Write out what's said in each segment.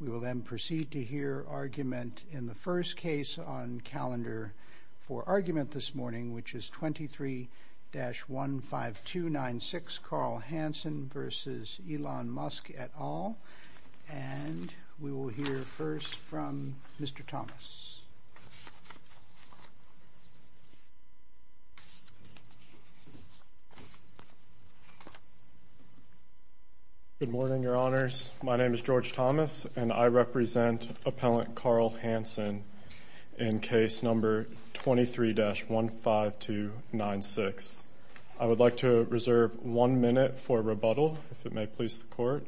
We will then proceed to hear argument in the first case on calendar for argument this morning, which is 23-15296 Carl Hansen v. Elon Musk et al. And we will hear first from Mr. Thomas. Good morning, your honors. My name is George Thomas, and I represent appellant Carl Hansen in case number 23-15296. I would like to reserve one minute for rebuttal, if it may please the court.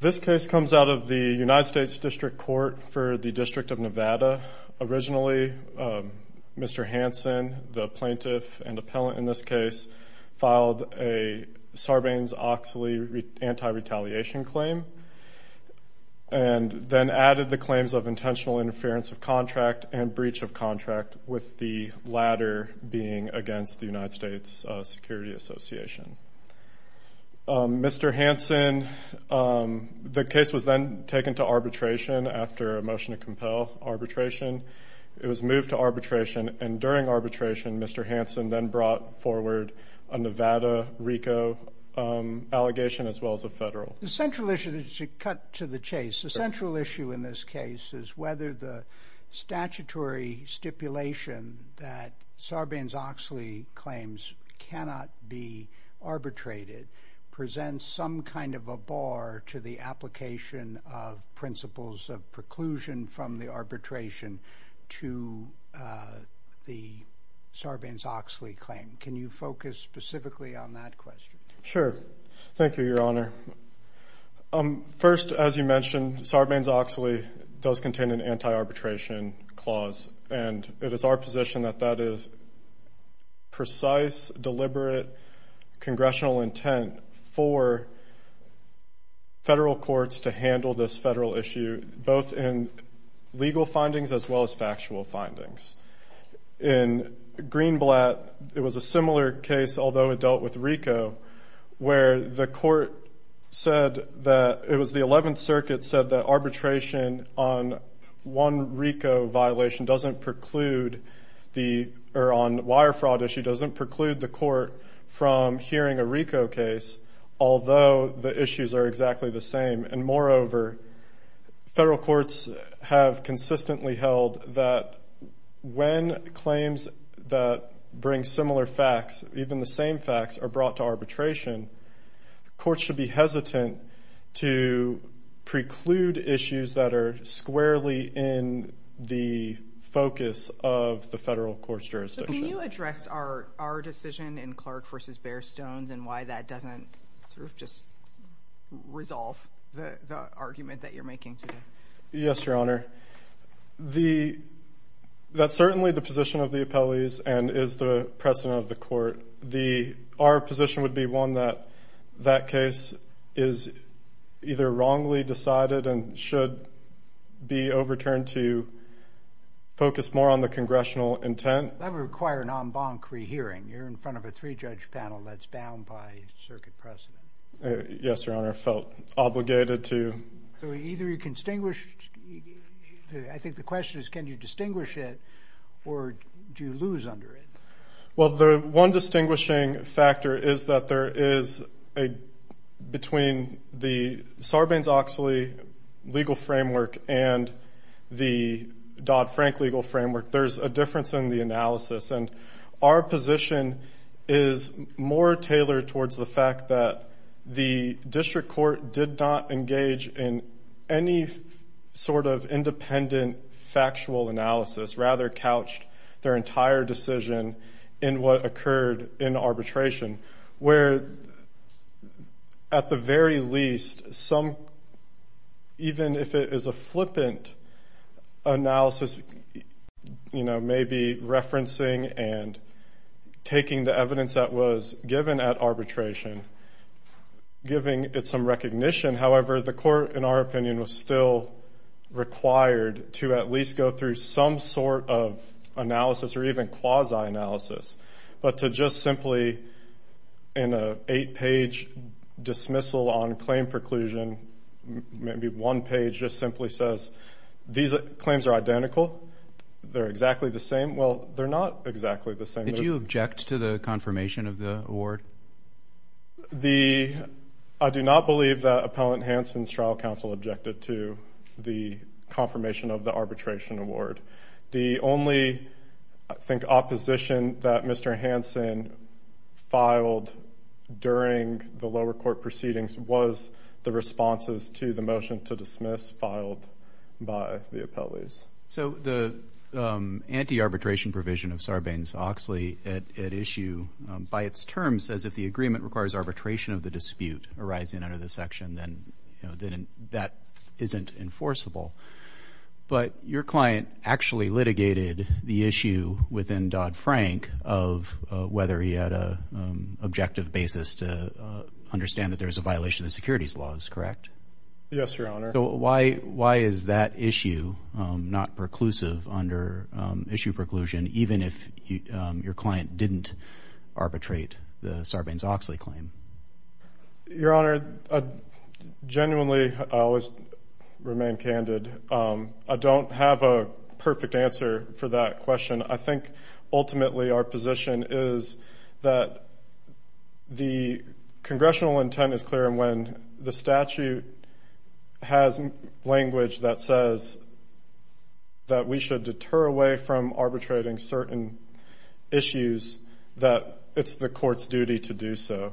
This case comes out of the United States District Court for the District of Nevada. Originally, Mr. Hansen, the plaintiff and appellant in this case, filed a Sarbanes-Oxley anti-retaliation claim and then added the claims of intentional interference of contract and breach of contract, with the latter being against the United States Security Association. Mr. Hansen, the case was then taken to arbitration after a motion to compel arbitration. It was moved to arbitration, and during arbitration, Mr. Hansen then brought forward a Nevada RICO allegation as well as a federal. The central issue, to cut to the chase, the central issue in this case is whether the statutory stipulation that Sarbanes-Oxley claims cannot be arbitrated presents some kind of a bar to the application of principles of preclusion from the arbitration to the Sarbanes-Oxley claim. Can you focus specifically on that question? Sure. Thank you, Your Honor. First, as you mentioned, Sarbanes-Oxley does contain an anti-arbitration clause, and it is our position that that is precise, deliberate, congressional intent for federal courts to handle this federal issue, both in legal findings as well as factual findings. In Greenblatt, it was a similar case, although it dealt with RICO, where the court said that it was the 11th Circuit said that arbitration on one RICO violation doesn't preclude the or on wire fraud issue doesn't preclude the court from hearing a RICO case, although the issues are exactly the same. And moreover, federal courts have consistently held that when claims that bring similar facts, even the same facts, are brought to arbitration, courts should be hesitant to preclude issues that are squarely in the focus of the federal court's jurisdiction. Can you address our decision in Clark v. Bear Stones and why that doesn't just resolve the argument that you're making today? Yes, Your Honor. That's certainly the position of the appellees and is the precedent of the court. Our position would be one that that case is either wrongly decided and should be overturned to focus more on the congressional intent. That would require an en banc rehearing. You're in front of a three-judge panel that's bound by circuit precedent. Yes, Your Honor. I felt obligated to. So either you can distinguish. I think the question is can you distinguish it or do you lose under it? Well, the one distinguishing factor is that there is a between the Sarbanes-Oxley legal framework and the Dodd-Frank legal framework, there's a difference in the analysis. And our position is more tailored towards the fact that the district court did not engage in any sort of independent factual analysis, rather couched their entire decision in what occurred in arbitration, where at the very least, even if it is a flippant analysis, maybe referencing and taking the evidence that was given at arbitration, giving it some recognition, however, the court, in our opinion, was still required to at least go through some sort of analysis or even quasi-analysis, but to just simply in an eight-page dismissal on claim preclusion, maybe one page just simply says these claims are identical, they're exactly the same. Well, they're not exactly the same. Did you object to the confirmation of the award? I do not believe that Appellant Hanson's trial counsel objected to the confirmation of the arbitration award. The only, I think, opposition that Mr. Hanson filed during the lower court proceedings was the responses to the motion to dismiss filed by the appellees. So the anti-arbitration provision of Sarbanes-Oxley at issue, by its terms, says if the agreement requires arbitration of the dispute arising under the section, then that isn't enforceable. But your client actually litigated the issue within Dodd-Frank of whether he had an objective basis to understand that there was a violation of securities laws, correct? Yes, Your Honor. So why is that issue not preclusive under issue preclusion, even if your client didn't arbitrate the Sarbanes-Oxley claim? Your Honor, I genuinely always remain candid. I don't have a perfect answer for that question. I think ultimately our position is that the congressional intent is clear, and when the statute has language that says that we should deter away from arbitrating certain issues, that it's the court's duty to do so.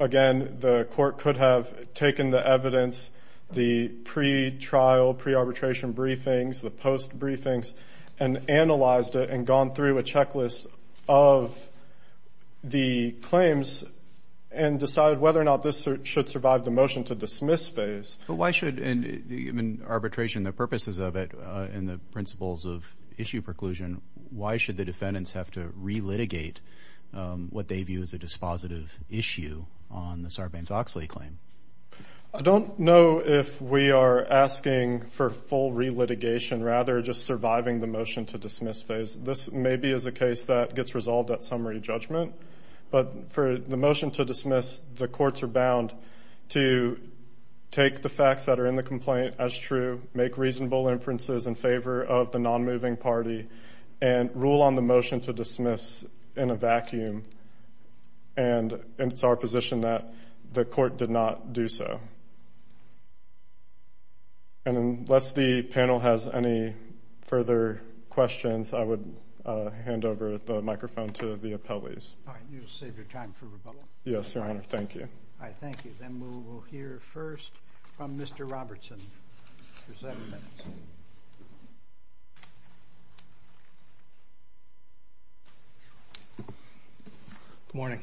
Again, the court could have taken the evidence, the pretrial, pre-arbitration briefings, the post briefings, and analyzed it and gone through a checklist of the claims and decided whether or not this should survive the motion to dismiss phase. But why should, in arbitration, the purposes of it and the principles of issue preclusion, why should the defendants have to relitigate what they view as a dispositive issue on the Sarbanes-Oxley claim? I don't know if we are asking for full relitigation, rather just surviving the motion to dismiss phase. This maybe is a case that gets resolved at summary judgment. But for the motion to dismiss, the courts are bound to take the facts that are in the complaint as true, make reasonable inferences in favor of the nonmoving party, and rule on the motion to dismiss in a vacuum. And it's our position that the court did not do so. And unless the panel has any further questions, I would hand over the microphone to the appellees. All right. You'll save your time for rebuttal. Yes, Your Honor. Thank you. All right. Thank you. Then we will hear first from Mr. Robertson for seven minutes. Good morning.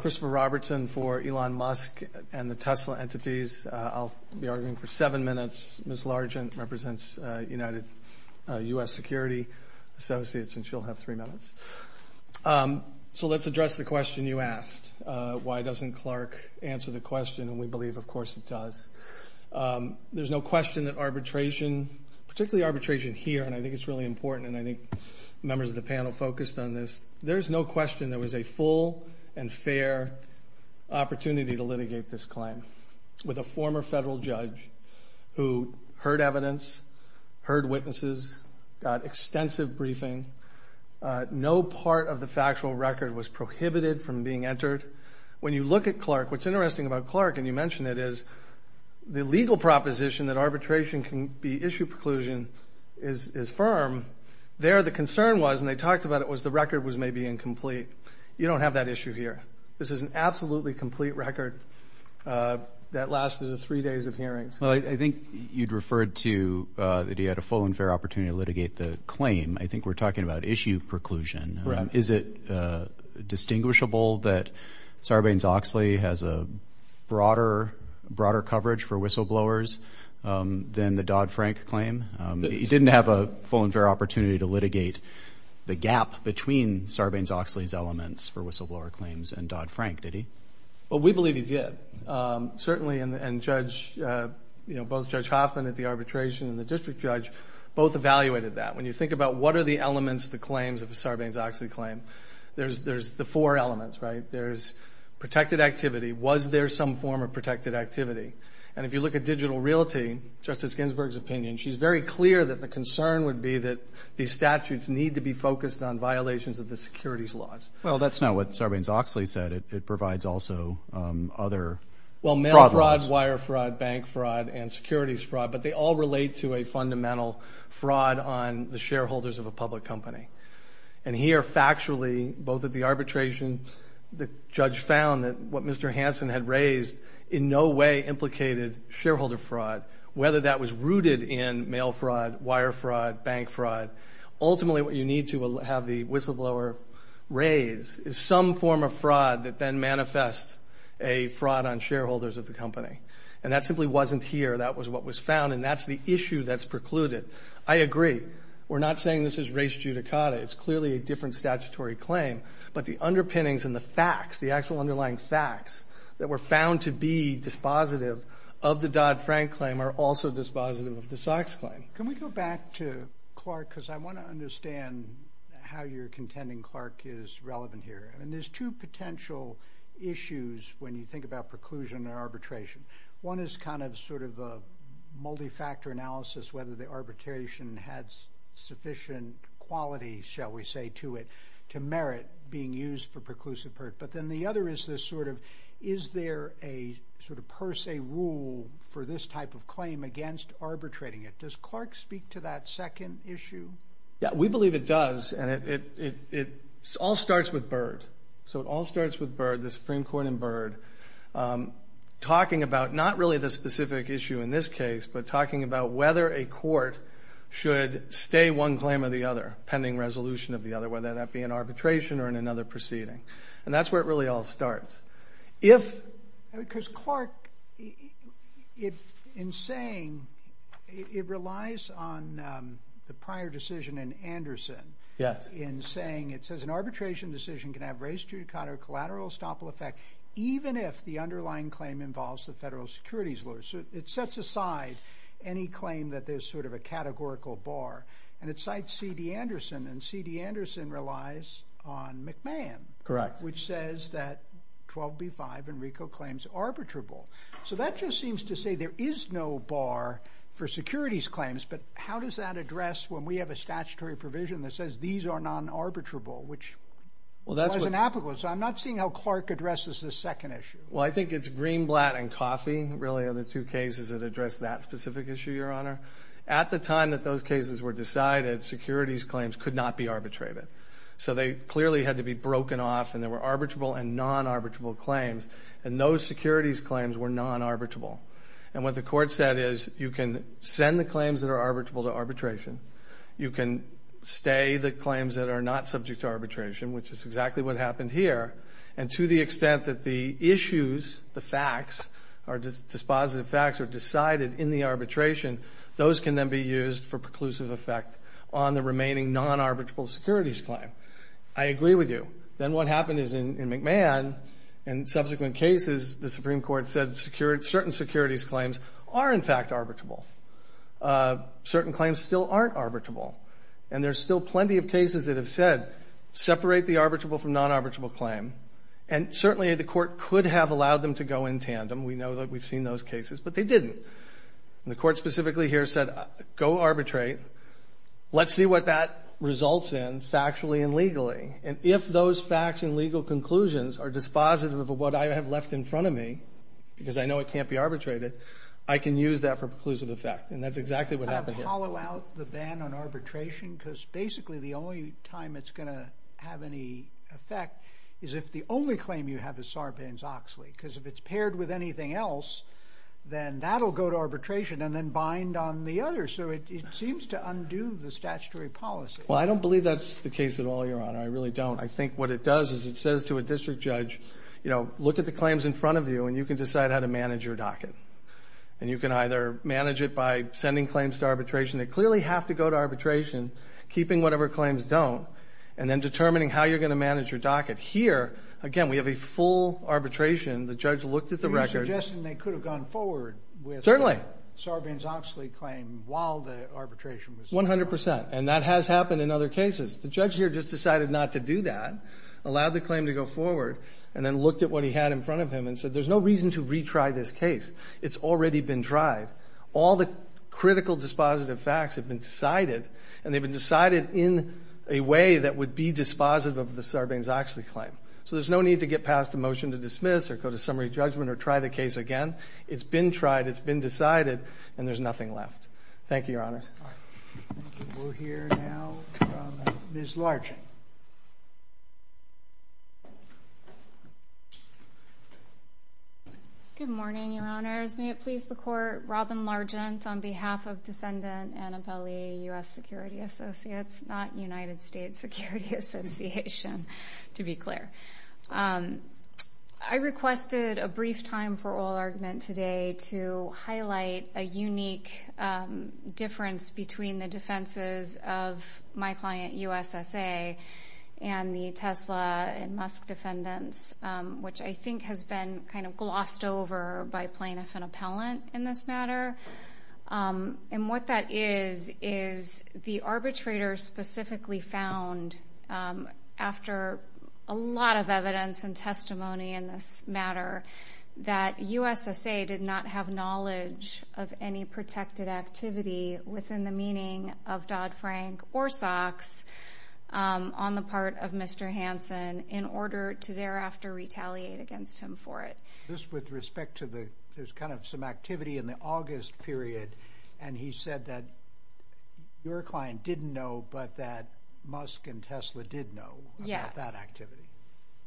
Christopher Robertson for Elon Musk and the Tesla entities. I'll be arguing for seven minutes. Ms. Largent represents United U.S. Security Associates, and she'll have three minutes. So let's address the question you asked. Why doesn't Clark answer the question? And we believe, of course, it does. There's no question that arbitration, particularly arbitration here, and I think it's really important and I think members of the panel focused on this, there's no question there was a full and fair opportunity to litigate this claim with a former federal judge who heard evidence, heard witnesses, got extensive briefing. No part of the factual record was prohibited from being entered. When you look at Clark, what's interesting about Clark, and you mentioned it, is the legal proposition that arbitration can be issued preclusion is firm. There the concern was, and they talked about it, was the record was maybe incomplete. You don't have that issue here. This is an absolutely complete record that lasted three days of hearings. Well, I think you'd referred to that you had a full and fair opportunity to litigate the claim. I think we're talking about issue preclusion. Correct. Is it distinguishable that Sarbanes-Oxley has a broader coverage for whistleblowers than the Dodd-Frank claim? He didn't have a full and fair opportunity to litigate the gap between Sarbanes-Oxley's elements for whistleblower claims and Dodd-Frank, did he? Well, we believe he did. Certainly, and both Judge Hoffman at the arbitration and the district judge both evaluated that. When you think about what are the elements, the claims of a Sarbanes-Oxley claim, there's the four elements, right? There's protected activity. Was there some form of protected activity? And if you look at digital realty, Justice Ginsburg's opinion, she's very clear that the concern would be that these statutes need to be focused on violations of the securities laws. Well, that's not what Sarbanes-Oxley said. It provides also other fraud laws. Well, mail fraud, wire fraud, bank fraud, and securities fraud, but they all relate to a fundamental fraud on the shareholders of a public company. And here, factually, both at the arbitration, the judge found that what Mr. Hansen had raised in no way implicated shareholder fraud, whether that was rooted in mail fraud, wire fraud, bank fraud. Ultimately, what you need to have the whistleblower raise is some form of fraud that then manifests a fraud on shareholders of the company. And that simply wasn't here. That was what was found, and that's the issue that's precluded. I agree. We're not saying this is res judicata. It's clearly a different statutory claim. But the underpinnings and the facts, the actual underlying facts, that were found to be dispositive of the Dodd-Frank claim are also dispositive of the Sachs claim. Can we go back to Clark? Because I want to understand how you're contending Clark is relevant here. I mean, there's two potential issues when you think about preclusion and arbitration. One is kind of sort of a multi-factor analysis, whether the arbitration had sufficient quality, shall we say, to it, to merit being used for preclusive pert. But then the other is this sort of, is there a sort of per se rule for this type of claim against arbitrating it? Does Clark speak to that second issue? Yeah, we believe it does, and it all starts with Byrd. So it all starts with Byrd, the Supreme Court and Byrd, talking about not really the specific issue in this case, but talking about whether a court should stay one claim or the other, pending resolution of the other, whether that be in arbitration or in another proceeding. And that's where it really all starts. Because Clark, in saying it relies on the prior decision in Anderson. Yes. In saying it says an arbitration decision can have res judicata or collateral estoppel effect even if the underlying claim involves the federal securities lawyer. So it sets aside any claim that there's sort of a categorical bar, and it cites C.D. Anderson, and C.D. Anderson relies on McMahon. Correct. Which says that 12b-5, Enrico, claims arbitrable. So that just seems to say there is no bar for securities claims, but how does that address when we have a statutory provision that says these are non-arbitrable, So I'm not seeing how Clark addresses this second issue. Well, I think it's Greenblatt and Coffey, really, are the two cases that address that specific issue, Your Honor. At the time that those cases were decided, securities claims could not be arbitrated. So they clearly had to be broken off, and there were arbitrable and non-arbitrable claims. And those securities claims were non-arbitrable. And what the Court said is you can send the claims that are arbitrable to arbitration. You can stay the claims that are not subject to arbitration, which is exactly what happened here. And to the extent that the issues, the facts, the dispositive facts are decided in the arbitration, those can then be used for preclusive effect on the remaining non-arbitrable securities claim. I agree with you. Then what happened is in McMahon, in subsequent cases, the Supreme Court said certain securities claims are, in fact, arbitrable. Certain claims still aren't arbitrable. And there's still plenty of cases that have said separate the arbitrable from non-arbitrable claim. And certainly the Court could have allowed them to go in tandem. We know that we've seen those cases, but they didn't. And the Court specifically here said go arbitrate. Let's see what that results in factually and legally. And if those facts and legal conclusions are dispositive of what I have left in front of me, because I know it can't be arbitrated, I can use that for preclusive effect. And that's exactly what happened here. How about the ban on arbitration? Because basically the only time it's going to have any effect is if the only claim you have is Sarbanes-Oxley. Because if it's paired with anything else, then that will go to arbitration and then bind on the other. So it seems to undo the statutory policy. Well, I don't believe that's the case at all, Your Honor. I really don't. I think what it does is it says to a district judge, you know, look at the claims in front of you, and you can decide how to manage your docket. And you can either manage it by sending claims to arbitration. They clearly have to go to arbitration, keeping whatever claims don't, and then determining how you're going to manage your docket. Here, again, we have a full arbitration. The judge looked at the record. Are you suggesting they could have gone forward with the Sarbanes-Oxley claim while the arbitration was done? One hundred percent. And that has happened in other cases. The judge here just decided not to do that, allowed the claim to go forward, and then looked at what he had in front of him and said there's no reason to retry this case. It's already been tried. All the critical dispositive facts have been decided, and they've been decided in a way that would be dispositive of the Sarbanes-Oxley claim. So there's no need to get past a motion to dismiss or go to summary judgment or try the case again. It's been tried. It's been decided. And there's nothing left. Thank you, Your Honors. Thank you. We'll hear now from Ms. Larchin. Good morning, Your Honors. May it please the Court. Robin Larchin on behalf of Defendant Annabelle E. U.S. Security Associates, not United States Security Association, to be clear. I requested a brief time for oral argument today to highlight a unique difference between the defenses of my client, U.S.S.A., and the Tesla and Musk defendants, which I think has been kind of glossed over by plaintiff and appellant in this matter. And what that is is the arbitrator specifically found, after a lot of evidence and testimony in this matter, that U.S.S.A. did not have knowledge of any protected activity within the meaning of Dodd-Frank or Sox on the part of Mr. Hansen in order to thereafter retaliate against him for it. Just with respect to the kind of some activity in the August period, and he said that your client didn't know but that Musk and Tesla did know about that activity.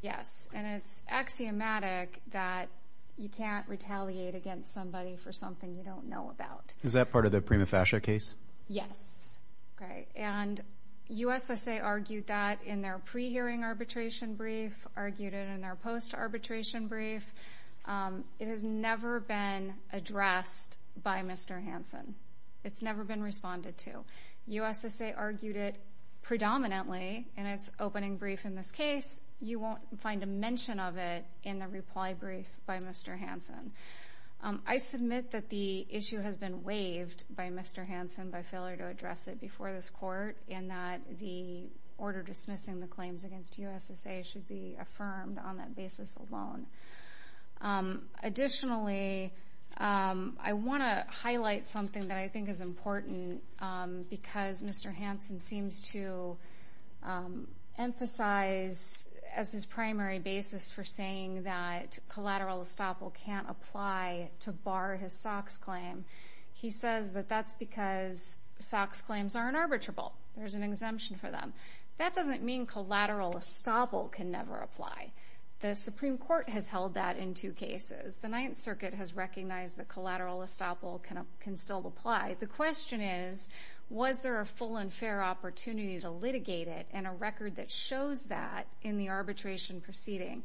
Yes. And it's axiomatic that you can't retaliate against somebody for something you don't know about. Is that part of the prima facie case? Yes. Okay. And U.S.S.A. argued that in their pre-hearing arbitration brief, argued it in their post-arbitration brief. It has never been addressed by Mr. Hansen. It's never been responded to. U.S.S.A. argued it predominantly in its opening brief in this case. You won't find a mention of it in the reply brief by Mr. Hansen. I submit that the issue has been waived by Mr. Hansen by failure to address it before this court and that the order dismissing the claims against U.S.S.A. should be affirmed on that basis alone. Additionally, I want to highlight something that I think is important because Mr. Hansen seems to emphasize as his primary basis for saying that collateral estoppel can't apply to bar his SOX claim. He says that that's because SOX claims are unarbitrable. There's an exemption for them. That doesn't mean collateral estoppel can never apply. The Supreme Court has held that in two cases. The Ninth Circuit has recognized that collateral estoppel can still apply. The question is, was there a full and fair opportunity to litigate it and a record that shows that in the arbitration proceeding?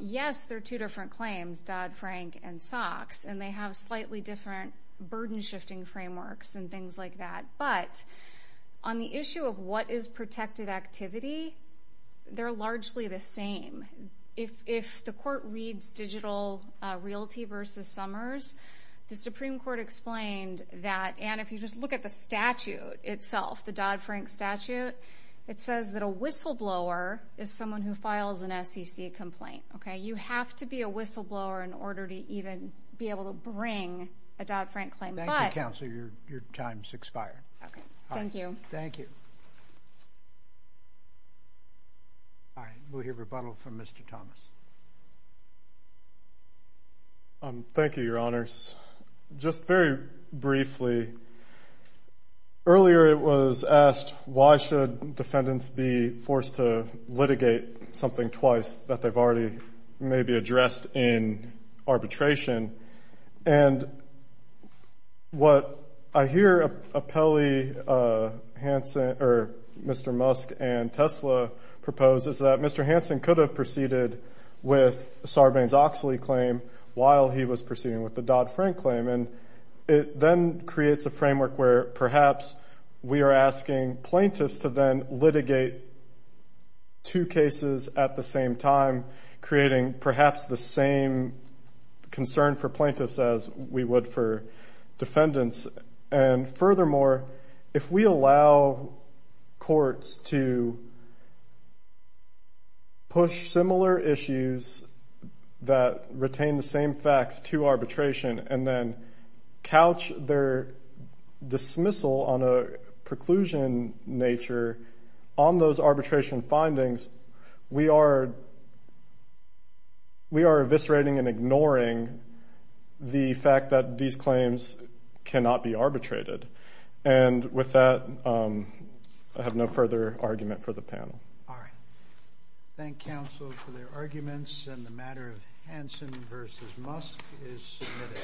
Yes, there are two different claims, Dodd-Frank and SOX, and they have slightly different burden-shifting frameworks and things like that. But on the issue of what is protected activity, they're largely the same. If the court reads Digital Realty v. Summers, the Supreme Court explained that, and if you just look at the statute itself, the Dodd-Frank statute, it says that a whistleblower is someone who files an SEC complaint. You have to be a whistleblower in order to even be able to bring a Dodd-Frank claim. Thank you, counsel. Your time has expired. Thank you. Thank you. All right. We'll hear rebuttal from Mr. Thomas. Thank you, Your Honors. Just very briefly, earlier it was asked, why should defendants be forced to litigate something twice that they've already maybe addressed in arbitration? And what I hear Mr. Musk and TESLA propose is that Mr. Hansen could have proceeded with Sarbanes-Oxley claim while he was proceeding with the Dodd-Frank claim, and it then creates a framework where perhaps we are asking plaintiffs to then litigate two cases at the same time, creating perhaps the same concern for plaintiffs as we would for defendants. And furthermore, if we allow courts to push similar issues that retain the same facts to arbitration and then couch their dismissal on a preclusion nature on those arbitration findings, we are eviscerating and ignoring the fact that these claims cannot be arbitrated. And with that, I have no further argument for the panel. All right. Thank counsel for their arguments. And the matter of Hansen v. Musk is submitted.